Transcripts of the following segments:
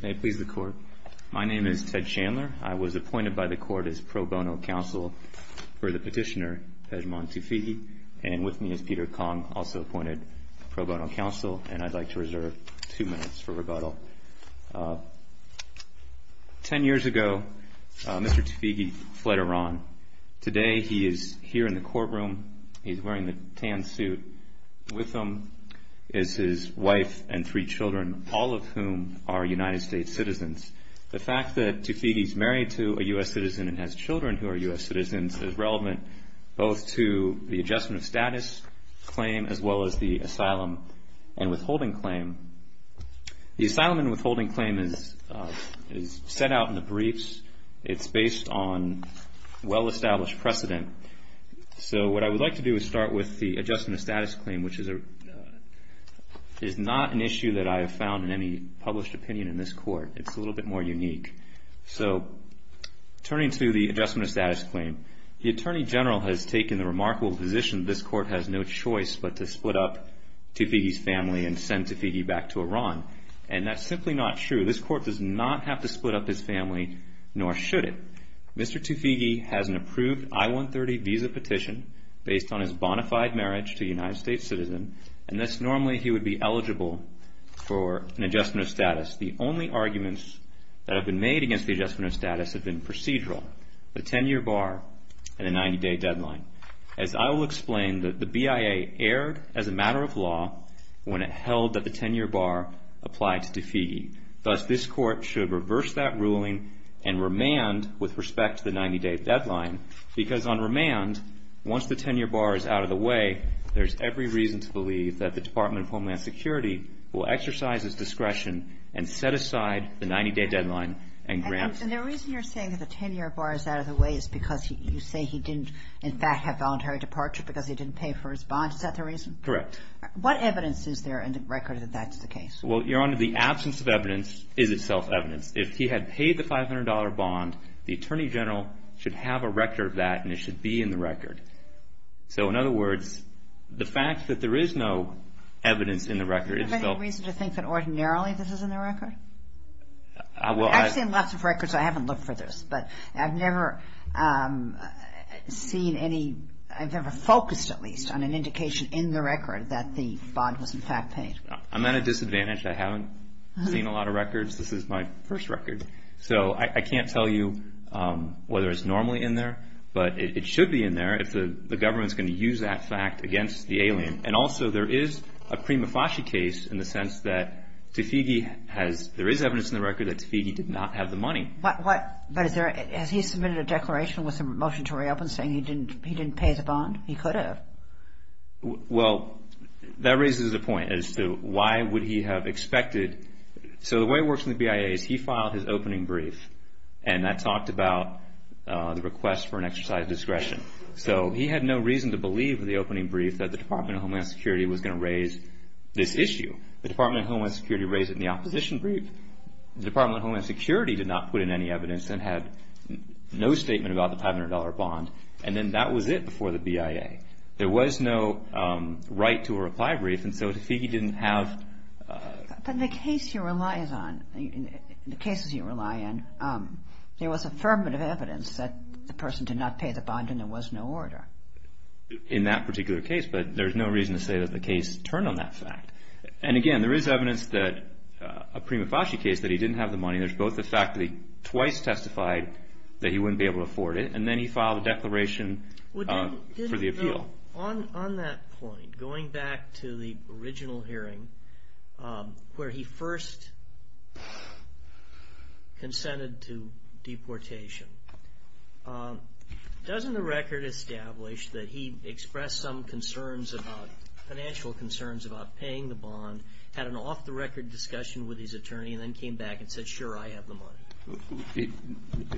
May it please the court. My name is Ted Chandler. I was appointed by the court as pro bono counsel for the petitioner, Pejman Tofighi, and with me is Peter Kong, also appointed pro bono counsel, and I'd like to reserve two minutes for rebuttal. Ten years ago, Mr. Tofighi fled Iran. Today he is here in the courtroom. He's wearing the tan suit. With him is his wife and three children, all of whom are United States citizens. The fact that Tofighi is married to a U.S. citizen and has children who are U.S. citizens is relevant both to the adjustment of status claim as well as the asylum and withholding claim. The asylum and withholding claim is set out in the briefs. It's based on well-established precedent. So what I would like to do is start with the adjustment of status claim, which is not an issue that I have found in any published opinion in this court. It's a little bit more unique. So turning to the adjustment of status claim, the Attorney General has taken the remarkable position that this court has no choice but to split up Tofighi's family and send Tofighi back to Iran, and that's simply not true. This court does not have to split up his family, nor should it. Mr. Tofighi has an approved I-130 visa petition based on his bona fide marriage to a United States citizen, and thus normally he would be eligible for an adjustment of status. The only arguments that have been made against the adjustment of status have been procedural, the 10-year bar and the 90-day deadline. As I will explain, the BIA erred as a matter of law when it held that the 10-year bar applied to Tofighi. Thus, this court should reverse that ruling and remand with respect to the 90-day deadline, because on remand, once the 10-year bar is out of the way, there's every reason to believe that the Department of Homeland Security will exercise its discretion and set aside the 90-day deadline and grant him. And the reason you're saying that the 10-year bar is out of the way is because you say he didn't, in fact, have voluntary departure because he didn't pay for his bond. Is that the reason? Correct. What evidence is there in the record that that's the case? Well, Your Honor, the absence of evidence is itself evidence. If he had paid the $500 bond, the Attorney General should have a record of that, and it should be in the record. So in other words, the fact that there is no evidence in the record is still – Do you think that ordinarily this is in the record? I've seen lots of records. I haven't looked for this, but I've never seen any – I've never focused, at least, on an indication in the record that the bond was, in fact, paid. I'm at a disadvantage. I haven't seen a lot of records. This is my first record. So I can't tell you whether it's normally in there, but it should be in there if the government's going to use that fact against the alien. And also, there is a prima facie case in the sense that Tafigi has – there is evidence in the record that Tafigi did not have the money. But is there – has he submitted a declaration with a motion to reopen saying he didn't pay the bond? He could have. Well, that raises a point as to why would he have expected – so the way it works in the BIA is he filed his opening brief, and that talked about the request for an exercise of discretion. So he had no reason to believe in the opening brief that the Department of Homeland Security was going to raise this issue. The Department of Homeland Security raised it in the opposition brief. The Department of Homeland Security did not put in any evidence and had no statement about the $500 bond, and then that was it before the BIA. There was no right to a reply brief, and so Tafigi didn't have – But in the case he relies on – in the cases you rely on, there was affirmative evidence that the person did not pay the bond and there was no order. In that particular case, but there's no reason to say that the case turned on that fact. And again, there is evidence that a prima facie case that he didn't have the money. There's both the fact that he twice testified that he wouldn't be able to afford it, and then he filed a declaration for the appeal. On that point, going back to the original hearing where he first consented to deportation, doesn't the record establish that he expressed some concerns about – financial concerns about paying the bond, had an off-the-record discussion with his attorney, and then came back and said, sure, I have the money?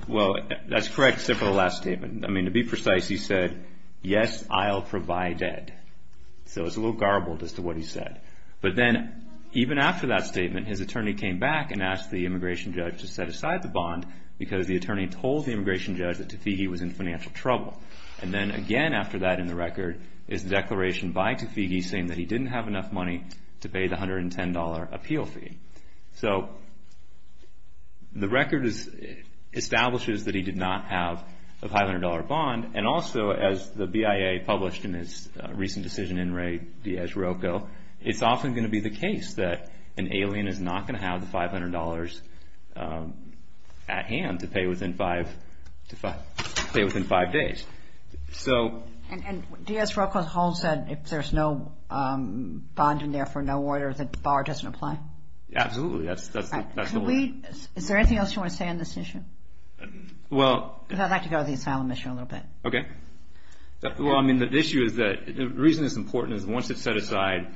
Well, that's correct except for the last statement. I mean, to be precise, he said, yes, I'll provide it. So it's a little garbled as to what he said. But then even after that statement, his attorney came back and asked the immigration judge to set aside the bond because the attorney told the immigration judge that Tafigi was in financial trouble. And then again after that in the record is the declaration by Tafigi saying that he didn't have enough money to pay the $110 appeal fee. So the record establishes that he did not have a $500 bond. And also as the BIA published in its recent decision in Ray Diaz-Rocco, it's often going to be the case that an alien is not going to have the $500 at hand to pay within five days. And Diaz-Rocco holds that if there's no bond in there for no order, the bar doesn't apply? Absolutely. Is there anything else you want to say on this issue? Because I'd like to go to the asylum issue a little bit. Okay. Well, I mean, the issue is that the reason it's important is once it's set aside,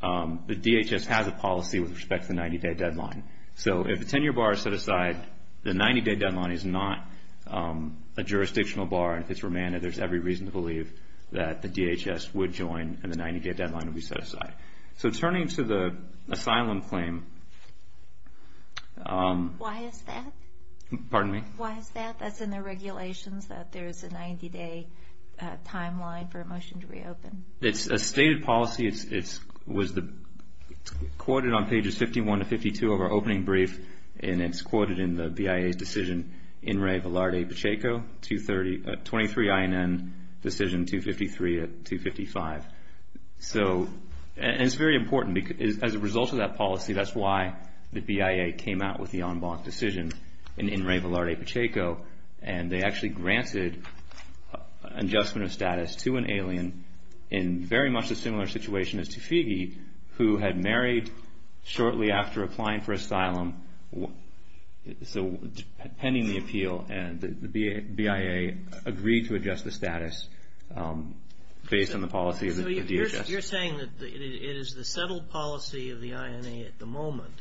the DHS has a policy with respect to the 90-day deadline. So if the 10-year bar is set aside, the 90-day deadline is not a jurisdictional bar. If it's romantic, there's every reason to believe that the DHS would join and the 90-day deadline would be set aside. So turning to the asylum claim. Why is that? Pardon me? Why is that? That's in the regulations that there's a 90-day timeline for a motion to reopen. It's a stated policy. It was quoted on pages 51 to 52 of our opening brief, and it's quoted in the BIA's decision in re Valarde-Pacheco, 23 INN decision 253 to 255. And it's very important. As a result of that policy, that's why the BIA came out with the en banc decision in re Valarde-Pacheco, and they actually granted adjustment of status to an alien in very much a similar situation as Tofigi, who had married shortly after applying for asylum. So pending the appeal, the BIA agreed to adjust the status based on the policy of the DHS. So you're saying that it is the settled policy of the INA at the moment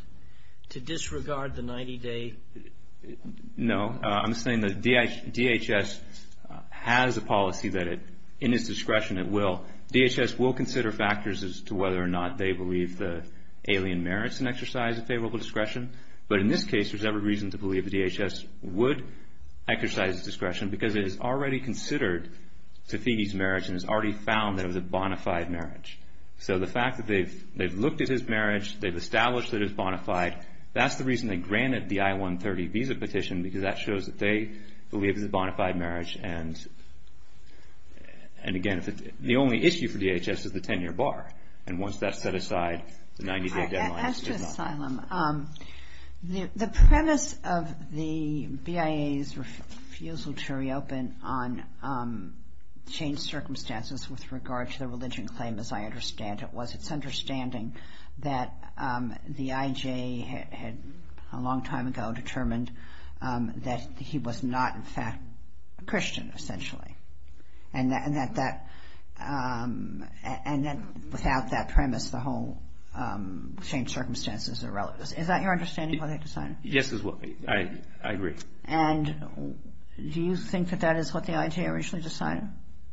to disregard the 90-day? No. I'm saying the DHS has a policy that in its discretion it will. DHS will consider factors as to whether or not they believe the alien merits an exercise of favorable discretion. But in this case, there's every reason to believe the DHS would exercise its discretion because it has already considered Tofigi's marriage and has already found that it was a bona fide marriage. So the fact that they've looked at his marriage, they've established that it's bona fide, that's the reason they granted the I-130 visa petition because that shows that they believe it's a bona fide marriage. And, again, the only issue for DHS is the 10-year bar. And once that's set aside, the 90-day deadline is not. As to asylum, the premise of the BIA's refusal to reopen on changed circumstances with regard to the religion claim, as I understand it, was its understanding that the IJ had a long time ago determined that he was not, in fact, a Christian, essentially, and that without that premise, the whole changed circumstances are relative. Is that your understanding of what they decided? Yes, I agree. And do you think that that is what the IJ originally decided?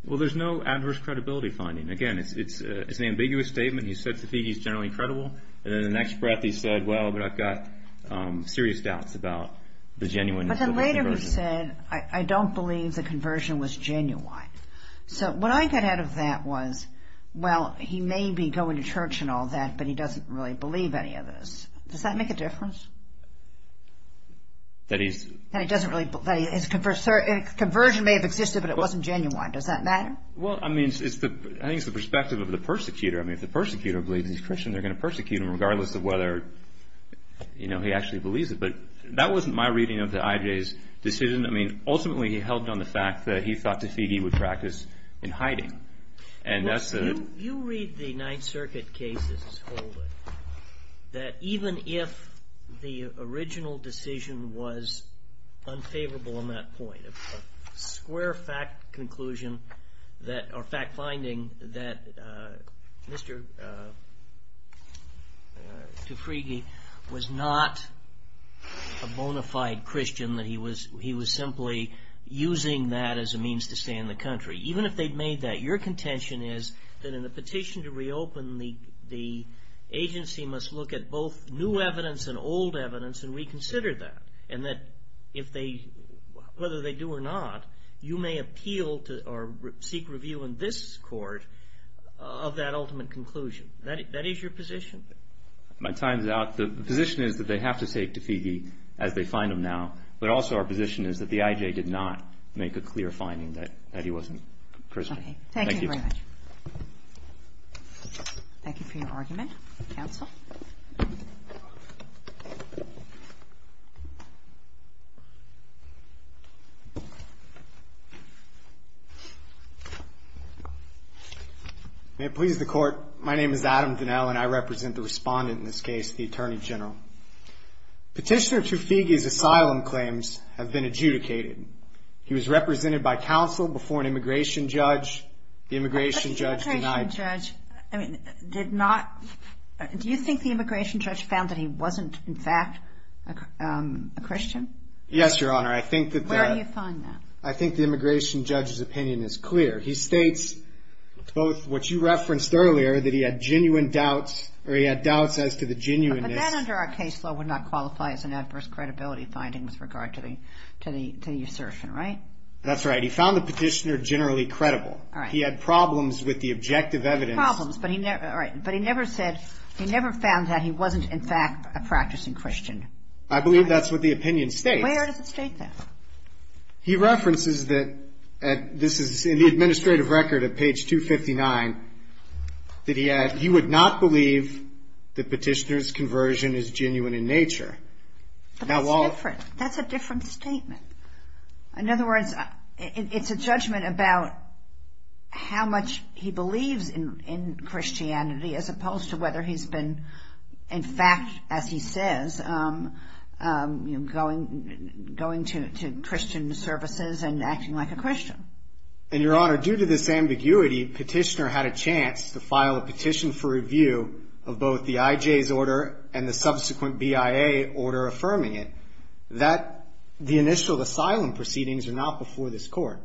Well, there's no adverse credibility finding. Again, it's an ambiguous statement. He said to me he's generally credible, and then the next breath he said, well, but I've got serious doubts about the genuineness of his conversion. But then later he said, I don't believe the conversion was genuine. So what I got out of that was, well, he may be going to church and all that, but he doesn't really believe any of this. Does that make a difference? That he's – That he doesn't really – that his conversion may have existed, but it wasn't genuine. Does that matter? Well, I mean, I think it's the perspective of the persecutor. I mean, if the persecutor believes he's Christian, they're going to persecute him regardless of whether, you know, he actually believes it. But that wasn't my reading of the IJ's decision. I mean, ultimately he held on the fact that he thought Tafigi would practice in hiding. And that's the – Well, you read the Ninth Circuit cases wholly, that even if the original decision was unfavorable on that point, a square fact conclusion that – or fact finding that Mr. Tafigi was not a bona fide Christian, that he was simply using that as a means to stay in the country. Even if they'd made that, your contention is that in the petition to reopen, the agency must look at both new evidence and old evidence and reconsider that. And that if they – whether they do or not, you may appeal to or seek review in this court of that ultimate conclusion. That is your position? My time is out. The position is that they have to take Tafigi as they find him now, but also our position is that the IJ did not make a clear finding that he wasn't Christian. Thank you. Thank you very much. Thank you for your argument. Counsel. May it please the Court, my name is Adam Donnell, and I represent the respondent in this case, the Attorney General. Petitioner Tafigi's asylum claims have been adjudicated. He was represented by counsel before an immigration judge. The immigration judge denied – But the immigration judge, I mean, did not – do you think the immigration judge found that he wasn't, in fact, a Christian? Yes, Your Honor. I think that the – Where do you find that? I think the immigration judge's opinion is clear. He states both what you referenced earlier, that he had genuine doubts, or he had doubts as to the genuineness – But that under our case law would not qualify as an adverse credibility finding with regard to the assertion, right? That's right. He found the petitioner generally credible. All right. He had problems with the objective evidence. Problems, but he never – all right. But he never said – he never found that he wasn't, in fact, a practicing Christian. I believe that's what the opinion states. Where does it state that? He references that – this is in the administrative record at page 259 that he had – he would not believe that petitioner's conversion is genuine in nature. But that's different. That's a different statement. In other words, it's a judgment about how much he believes in Christianity as opposed to whether he's been, in fact, as he says, going to Christian services and acting like a Christian. And, Your Honor, due to this ambiguity, petitioner had a chance to file a petition for review of both the IJ's order and the subsequent BIA order affirming it. The initial asylum proceedings are not before this court.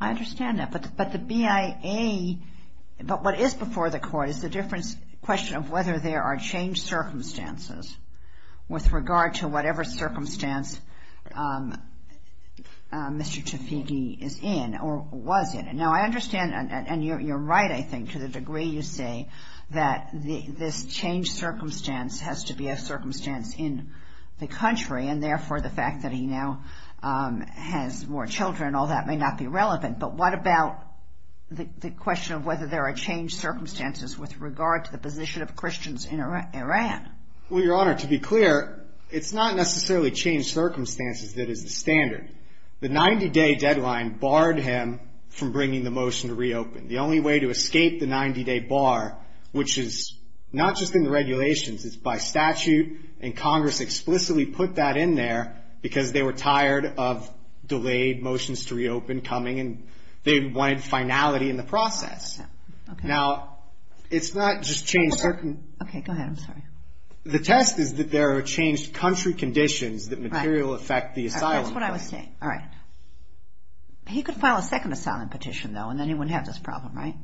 I understand that. But the BIA – but what is before the court is the different question of whether there are changed circumstances with regard to whatever circumstance Mr. Tafigi is in or was in. Now, I understand – and you're right, I think, to the degree you say that this changed circumstance has to be a circumstance in the country, and therefore the fact that he now has more children, all that, may not be relevant. But what about the question of whether there are changed circumstances with regard to the position of Christians in Iran? Well, Your Honor, to be clear, it's not necessarily changed circumstances that is the standard. The 90-day deadline barred him from bringing the motion to reopen. The only way to escape the 90-day bar, which is not just in the regulations, it's by statute, and Congress explicitly put that in there because they were tired of delayed motions to reopen coming, and they wanted finality in the process. Now, it's not just changed certain – Okay, go ahead. I'm sorry. The test is that there are changed country conditions that material affect the asylum claim. That's what I was saying. All right. He could file a second asylum petition, though, and then he wouldn't have this problem, right?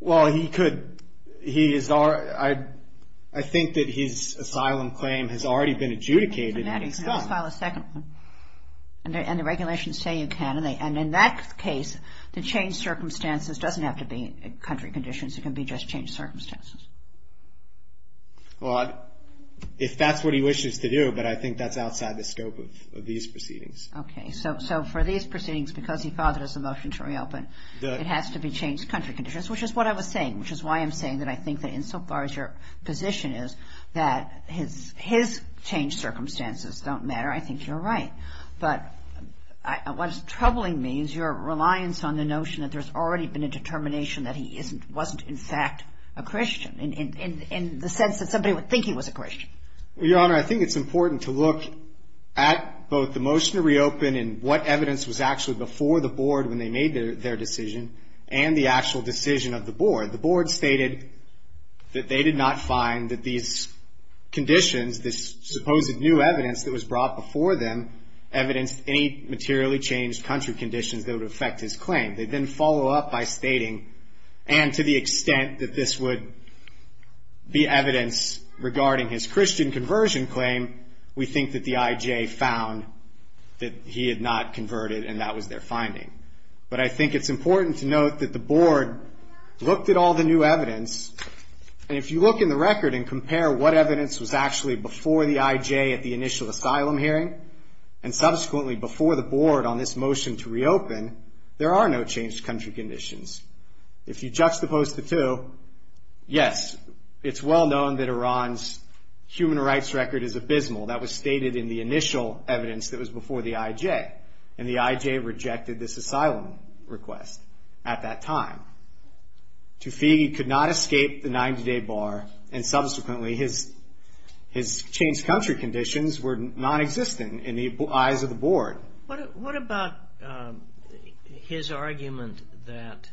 Well, he could. I think that his asylum claim has already been adjudicated and it's done. Matty, can I just file a second one? And the regulations say you can. And in that case, the changed circumstances doesn't have to be country conditions. It can be just changed circumstances. Well, if that's what he wishes to do, but I think that's outside the scope of these proceedings. Okay. So for these proceedings, because he filed the motion to reopen, it has to be changed country conditions, which is what I was saying, which is why I'm saying that I think that insofar as your position is that his changed circumstances don't matter, I think you're right. But what's troubling me is your reliance on the notion that there's already been a determination that he wasn't in fact a Christian in the sense that somebody would think he was a Christian. Well, Your Honor, I think it's important to look at both the motion to reopen and what evidence was actually before the board when they made their decision and the actual decision of the board. The board stated that they did not find that these conditions, this supposed new evidence that was brought before them, evidenced any materially changed country conditions that would affect his claim. They then follow up by stating, and to the extent that this would be evidence regarding his Christian conversion claim, we think that the IJ found that he had not converted and that was their finding. But I think it's important to note that the board looked at all the new evidence, and if you look in the record and compare what evidence was actually before the IJ at the initial asylum hearing and subsequently before the board on this motion to reopen, there are no changed country conditions. If you juxtapose the two, yes, it's well known that Iran's human rights record is abysmal. That was stated in the initial evidence that was before the IJ, and the IJ rejected this asylum request at that time. Tufey could not escape the 90-day bar, and subsequently his changed country conditions were nonexistent in the eyes of the board. What about his argument that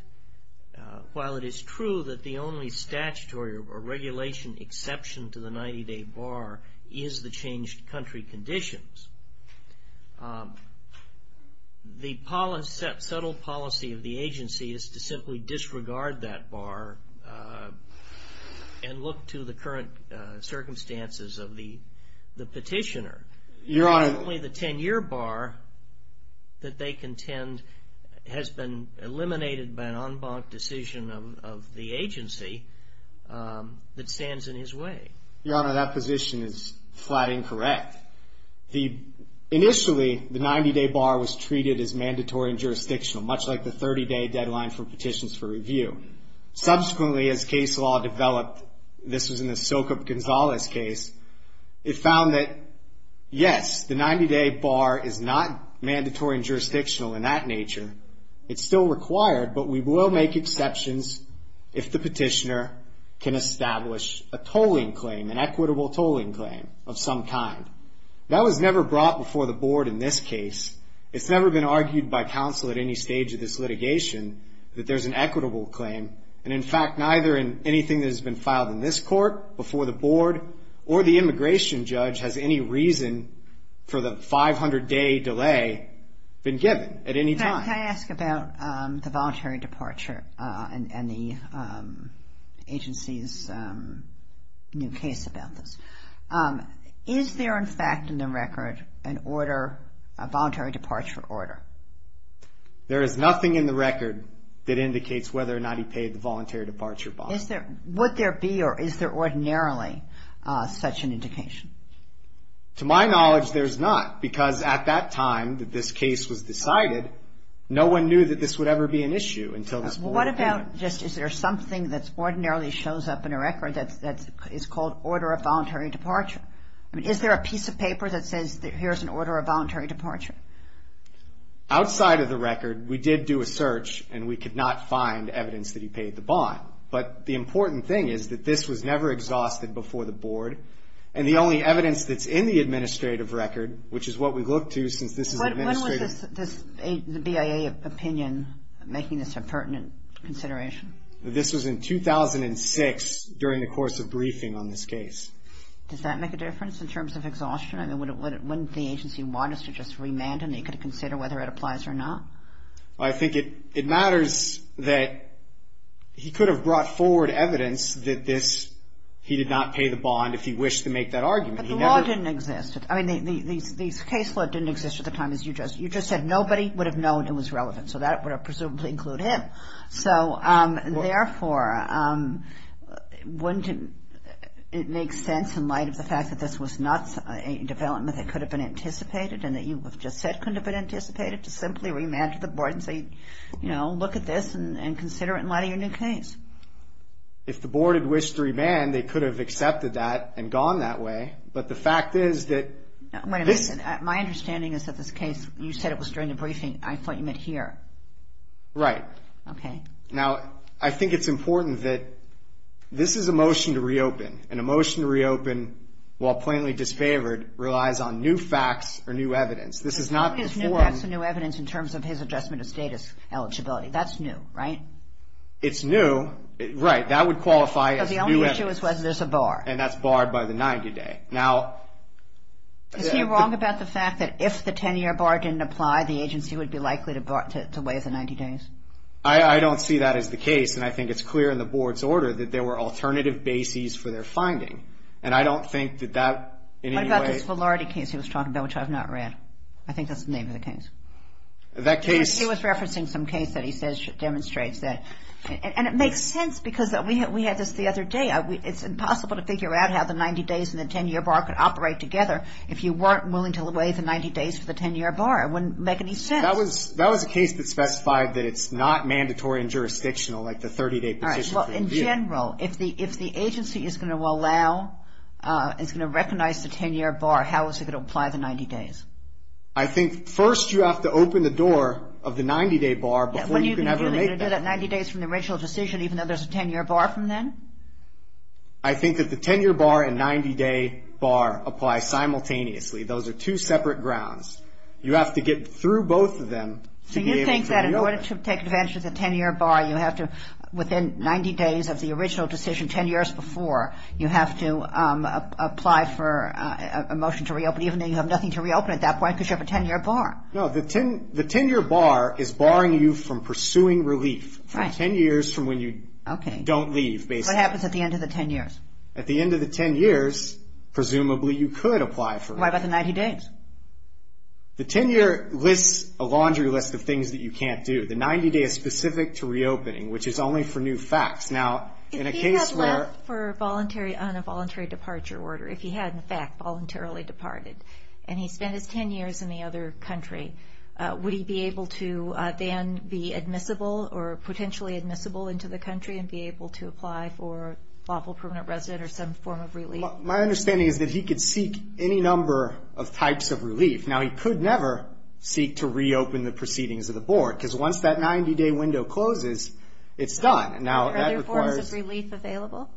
while it is true that the only statutory or regulation exception to the 90-day bar is the changed country conditions, the subtle policy of the agency is to simply disregard that bar and look to the current circumstances of the petitioner? Your Honor. Only the 10-year bar that they contend has been eliminated by an en banc decision of the agency that stands in his way. Your Honor, that position is flat incorrect. Initially, the 90-day bar was treated as mandatory and jurisdictional, much like the 30-day deadline for petitions for review. Subsequently, as case law developed, this was in the Sokop Gonzalez case, it found that, yes, the 90-day bar is not mandatory and jurisdictional in that nature. It's still required, but we will make exceptions if the petitioner can establish a tolling claim, an equitable tolling claim of some kind. That was never brought before the board in this case. It's never been argued by counsel at any stage of this litigation that there's an equitable claim, and, in fact, neither in anything that has been filed in this court before the board or the immigration judge has any reason for the 500-day delay been given at any time. Can I ask about the voluntary departure and the agency's new case about this? Is there, in fact, in the record, an order, a voluntary departure order? There is nothing in the record that indicates whether or not he paid the voluntary departure bond. Would there be or is there ordinarily such an indication? To my knowledge, there's not, because at that time that this case was decided, no one knew that this would ever be an issue until this board came in. What about just is there something that ordinarily shows up in a record that is called order of voluntary departure? I mean, is there a piece of paper that says that here's an order of voluntary departure? Outside of the record, we did do a search, and we could not find evidence that he paid the bond. But the important thing is that this was never exhausted before the board, and the only evidence that's in the administrative record, which is what we look to since this is administrative. When was the BIA opinion making this a pertinent consideration? This was in 2006 during the course of briefing on this case. Does that make a difference in terms of exhaustion? I mean, wouldn't the agency want us to just remand him? He could consider whether it applies or not. Well, I think it matters that he could have brought forward evidence that this, he did not pay the bond if he wished to make that argument. But the law didn't exist. I mean, these case law didn't exist at the time. You just said nobody would have known it was relevant, so that would presumably include him. So, therefore, wouldn't it make sense in light of the fact that this was not a development that could have been anticipated and that you have just said couldn't have been anticipated to simply remand to the board and say, you know, look at this and consider it in light of your new case? If the board had wished to remand, they could have accepted that and gone that way. But the fact is that this – My understanding is that this case, you said it was during the briefing. I thought you meant here. Right. Okay. Now, I think it's important that this is a motion to reopen, and a motion to reopen while plainly disfavored relies on new facts or new evidence. This is not before him. What is new facts or new evidence in terms of his adjustment of status eligibility? That's new, right? It's new. Right. That would qualify as new evidence. Because the only issue is whether there's a bar. And that's barred by the 90-day. Okay. Now – Is he wrong about the fact that if the 10-year bar didn't apply, the agency would be likely to weigh the 90 days? I don't see that as the case, and I think it's clear in the board's order that there were alternative bases for their finding. And I don't think that that in any way – What about this Velardi case he was talking about, which I've not read? I think that's the name of the case. That case – He was referencing some case that he says demonstrates that. And it makes sense because we had this the other day. It's impossible to figure out how the 90 days and the 10-year bar could operate together if you weren't willing to weigh the 90 days for the 10-year bar. It wouldn't make any sense. That was a case that specified that it's not mandatory and jurisdictional, like the 30-day position for review. All right. Well, in general, if the agency is going to allow – is going to recognize the 10-year bar, how is it going to apply the 90 days? I think first you have to open the door of the 90-day bar before you can ever make that. So you think that 90 days from the original decision, even though there's a 10-year bar from then? I think that the 10-year bar and 90-day bar apply simultaneously. Those are two separate grounds. You have to get through both of them to be able to reopen. So you think that in order to take advantage of the 10-year bar, you have to – within 90 days of the original decision, 10 years before, you have to apply for a motion to reopen, even though you have nothing to reopen at that point because you have a 10-year bar. No. The 10-year bar is barring you from pursuing relief for 10 years from when you don't leave, basically. Okay. So what happens at the end of the 10 years? At the end of the 10 years, presumably, you could apply for a – Why about the 90 days? The 10-year lists a laundry list of things that you can't do. The 90-day is specific to reopening, which is only for new facts. Now, in a case where – If he had left on a voluntary departure order, if he had, in fact, voluntarily departed, and he spent his 10 years in the other country, would he be able to then be admissible or potentially admissible into the country and be able to apply for lawful permanent resident or some form of relief? My understanding is that he could seek any number of types of relief. Now, he could never seek to reopen the proceedings of the board because once that 90-day window closes, it's done. Now, that requires – Are there forms of relief available?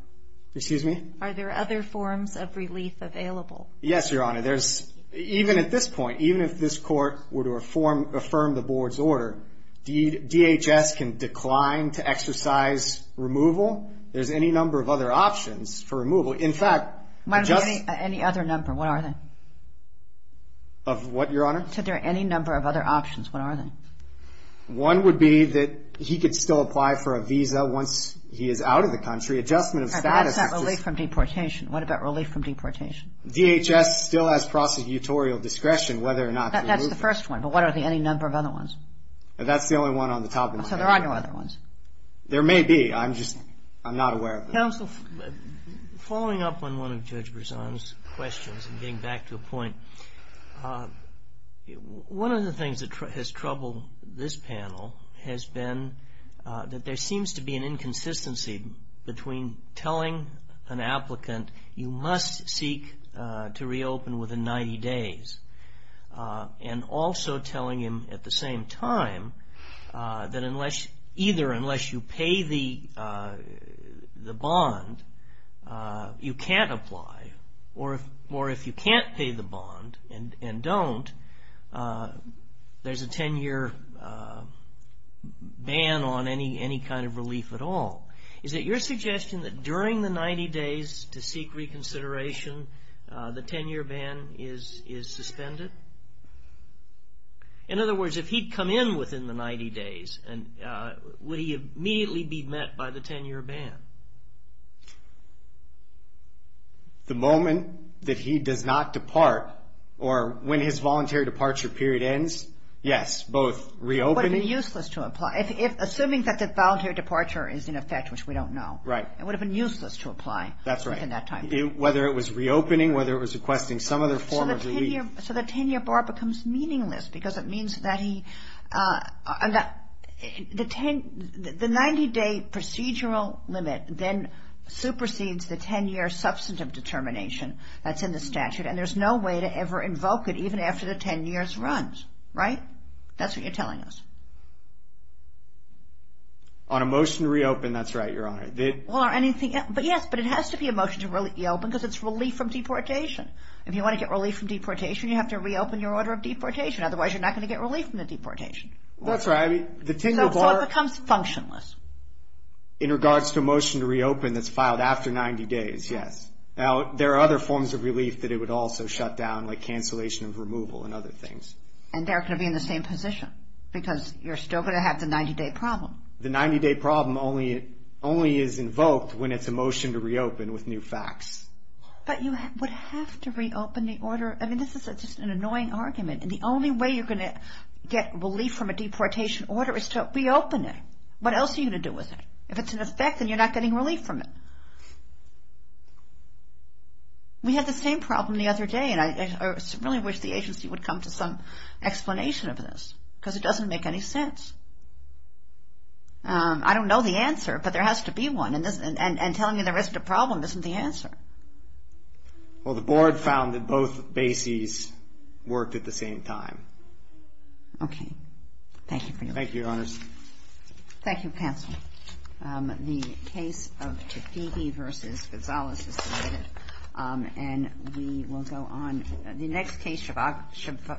Excuse me? Are there other forms of relief available? Yes, Your Honor. There's – even at this point, even if this court were to affirm the board's order, DHS can decline to exercise removal. There's any number of other options for removal. In fact, just – Any other number? What are they? Of what, Your Honor? Are there any number of other options? What are they? One would be that he could still apply for a visa once he is out of the country. Adjustment of status is just – What about relief from deportation? DHS still has prosecutorial discretion whether or not to remove him. That's the first one. But what are the – any number of other ones? That's the only one on the top of my head. So there are no other ones? There may be. I'm just – I'm not aware of them. Counsel, following up on one of Judge Berzon's questions and getting back to a point, one of the things that has troubled this panel has been that there seems to be an inconsistency between telling an applicant you must seek to reopen within 90 days and also telling him at the same time that either unless you pay the bond you can't apply or if you can't pay the bond and don't, there's a 10-year ban on any kind of relief at all. Is it your suggestion that during the 90 days to seek reconsideration, the 10-year ban is suspended? In other words, if he'd come in within the 90 days, would he immediately be met by the 10-year ban? The moment that he does not depart or when his voluntary departure period ends, yes, both reopening – It would have been useless to apply within that time period. Whether it was reopening, whether it was requesting some other form of relief. So the 10-year bar becomes meaningless because it means that he – the 90-day procedural limit then supersedes the 10-year substantive determination that's in the statute, and there's no way to ever invoke it even after the 10 years runs, right? That's what you're telling us. On a motion to reopen, that's right, Your Honor. Yes, but it has to be a motion to reopen because it's relief from deportation. If you want to get relief from deportation, you have to reopen your order of deportation. Otherwise, you're not going to get relief from the deportation. That's right. So it becomes functionless. In regards to a motion to reopen that's filed after 90 days, yes. Now, there are other forms of relief that it would also shut down, like cancellation of removal and other things. And they're going to be in the same position because you're still going to have the 90-day problem. The 90-day problem only is invoked when it's a motion to reopen with new facts. But you would have to reopen the order. I mean, this is just an annoying argument, and the only way you're going to get relief from a deportation order is to reopen it. What else are you going to do with it? If it's in effect, then you're not getting relief from it. We had the same problem the other day, and I really wish the agency would come to some explanation of this, because it doesn't make any sense. I don't know the answer, but there has to be one. And telling you there isn't a problem isn't the answer. Well, the board found that both bases worked at the same time. Okay. Thank you, Your Honors. Thank you, Counsel. The case of Tafdigi v. Gonzales is submitted. And we will go on. The next case, Chavez-Rigolato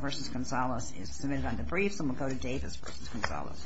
v. Gonzales, is submitted on debrief, so we'll go to Davis v. Gonzales.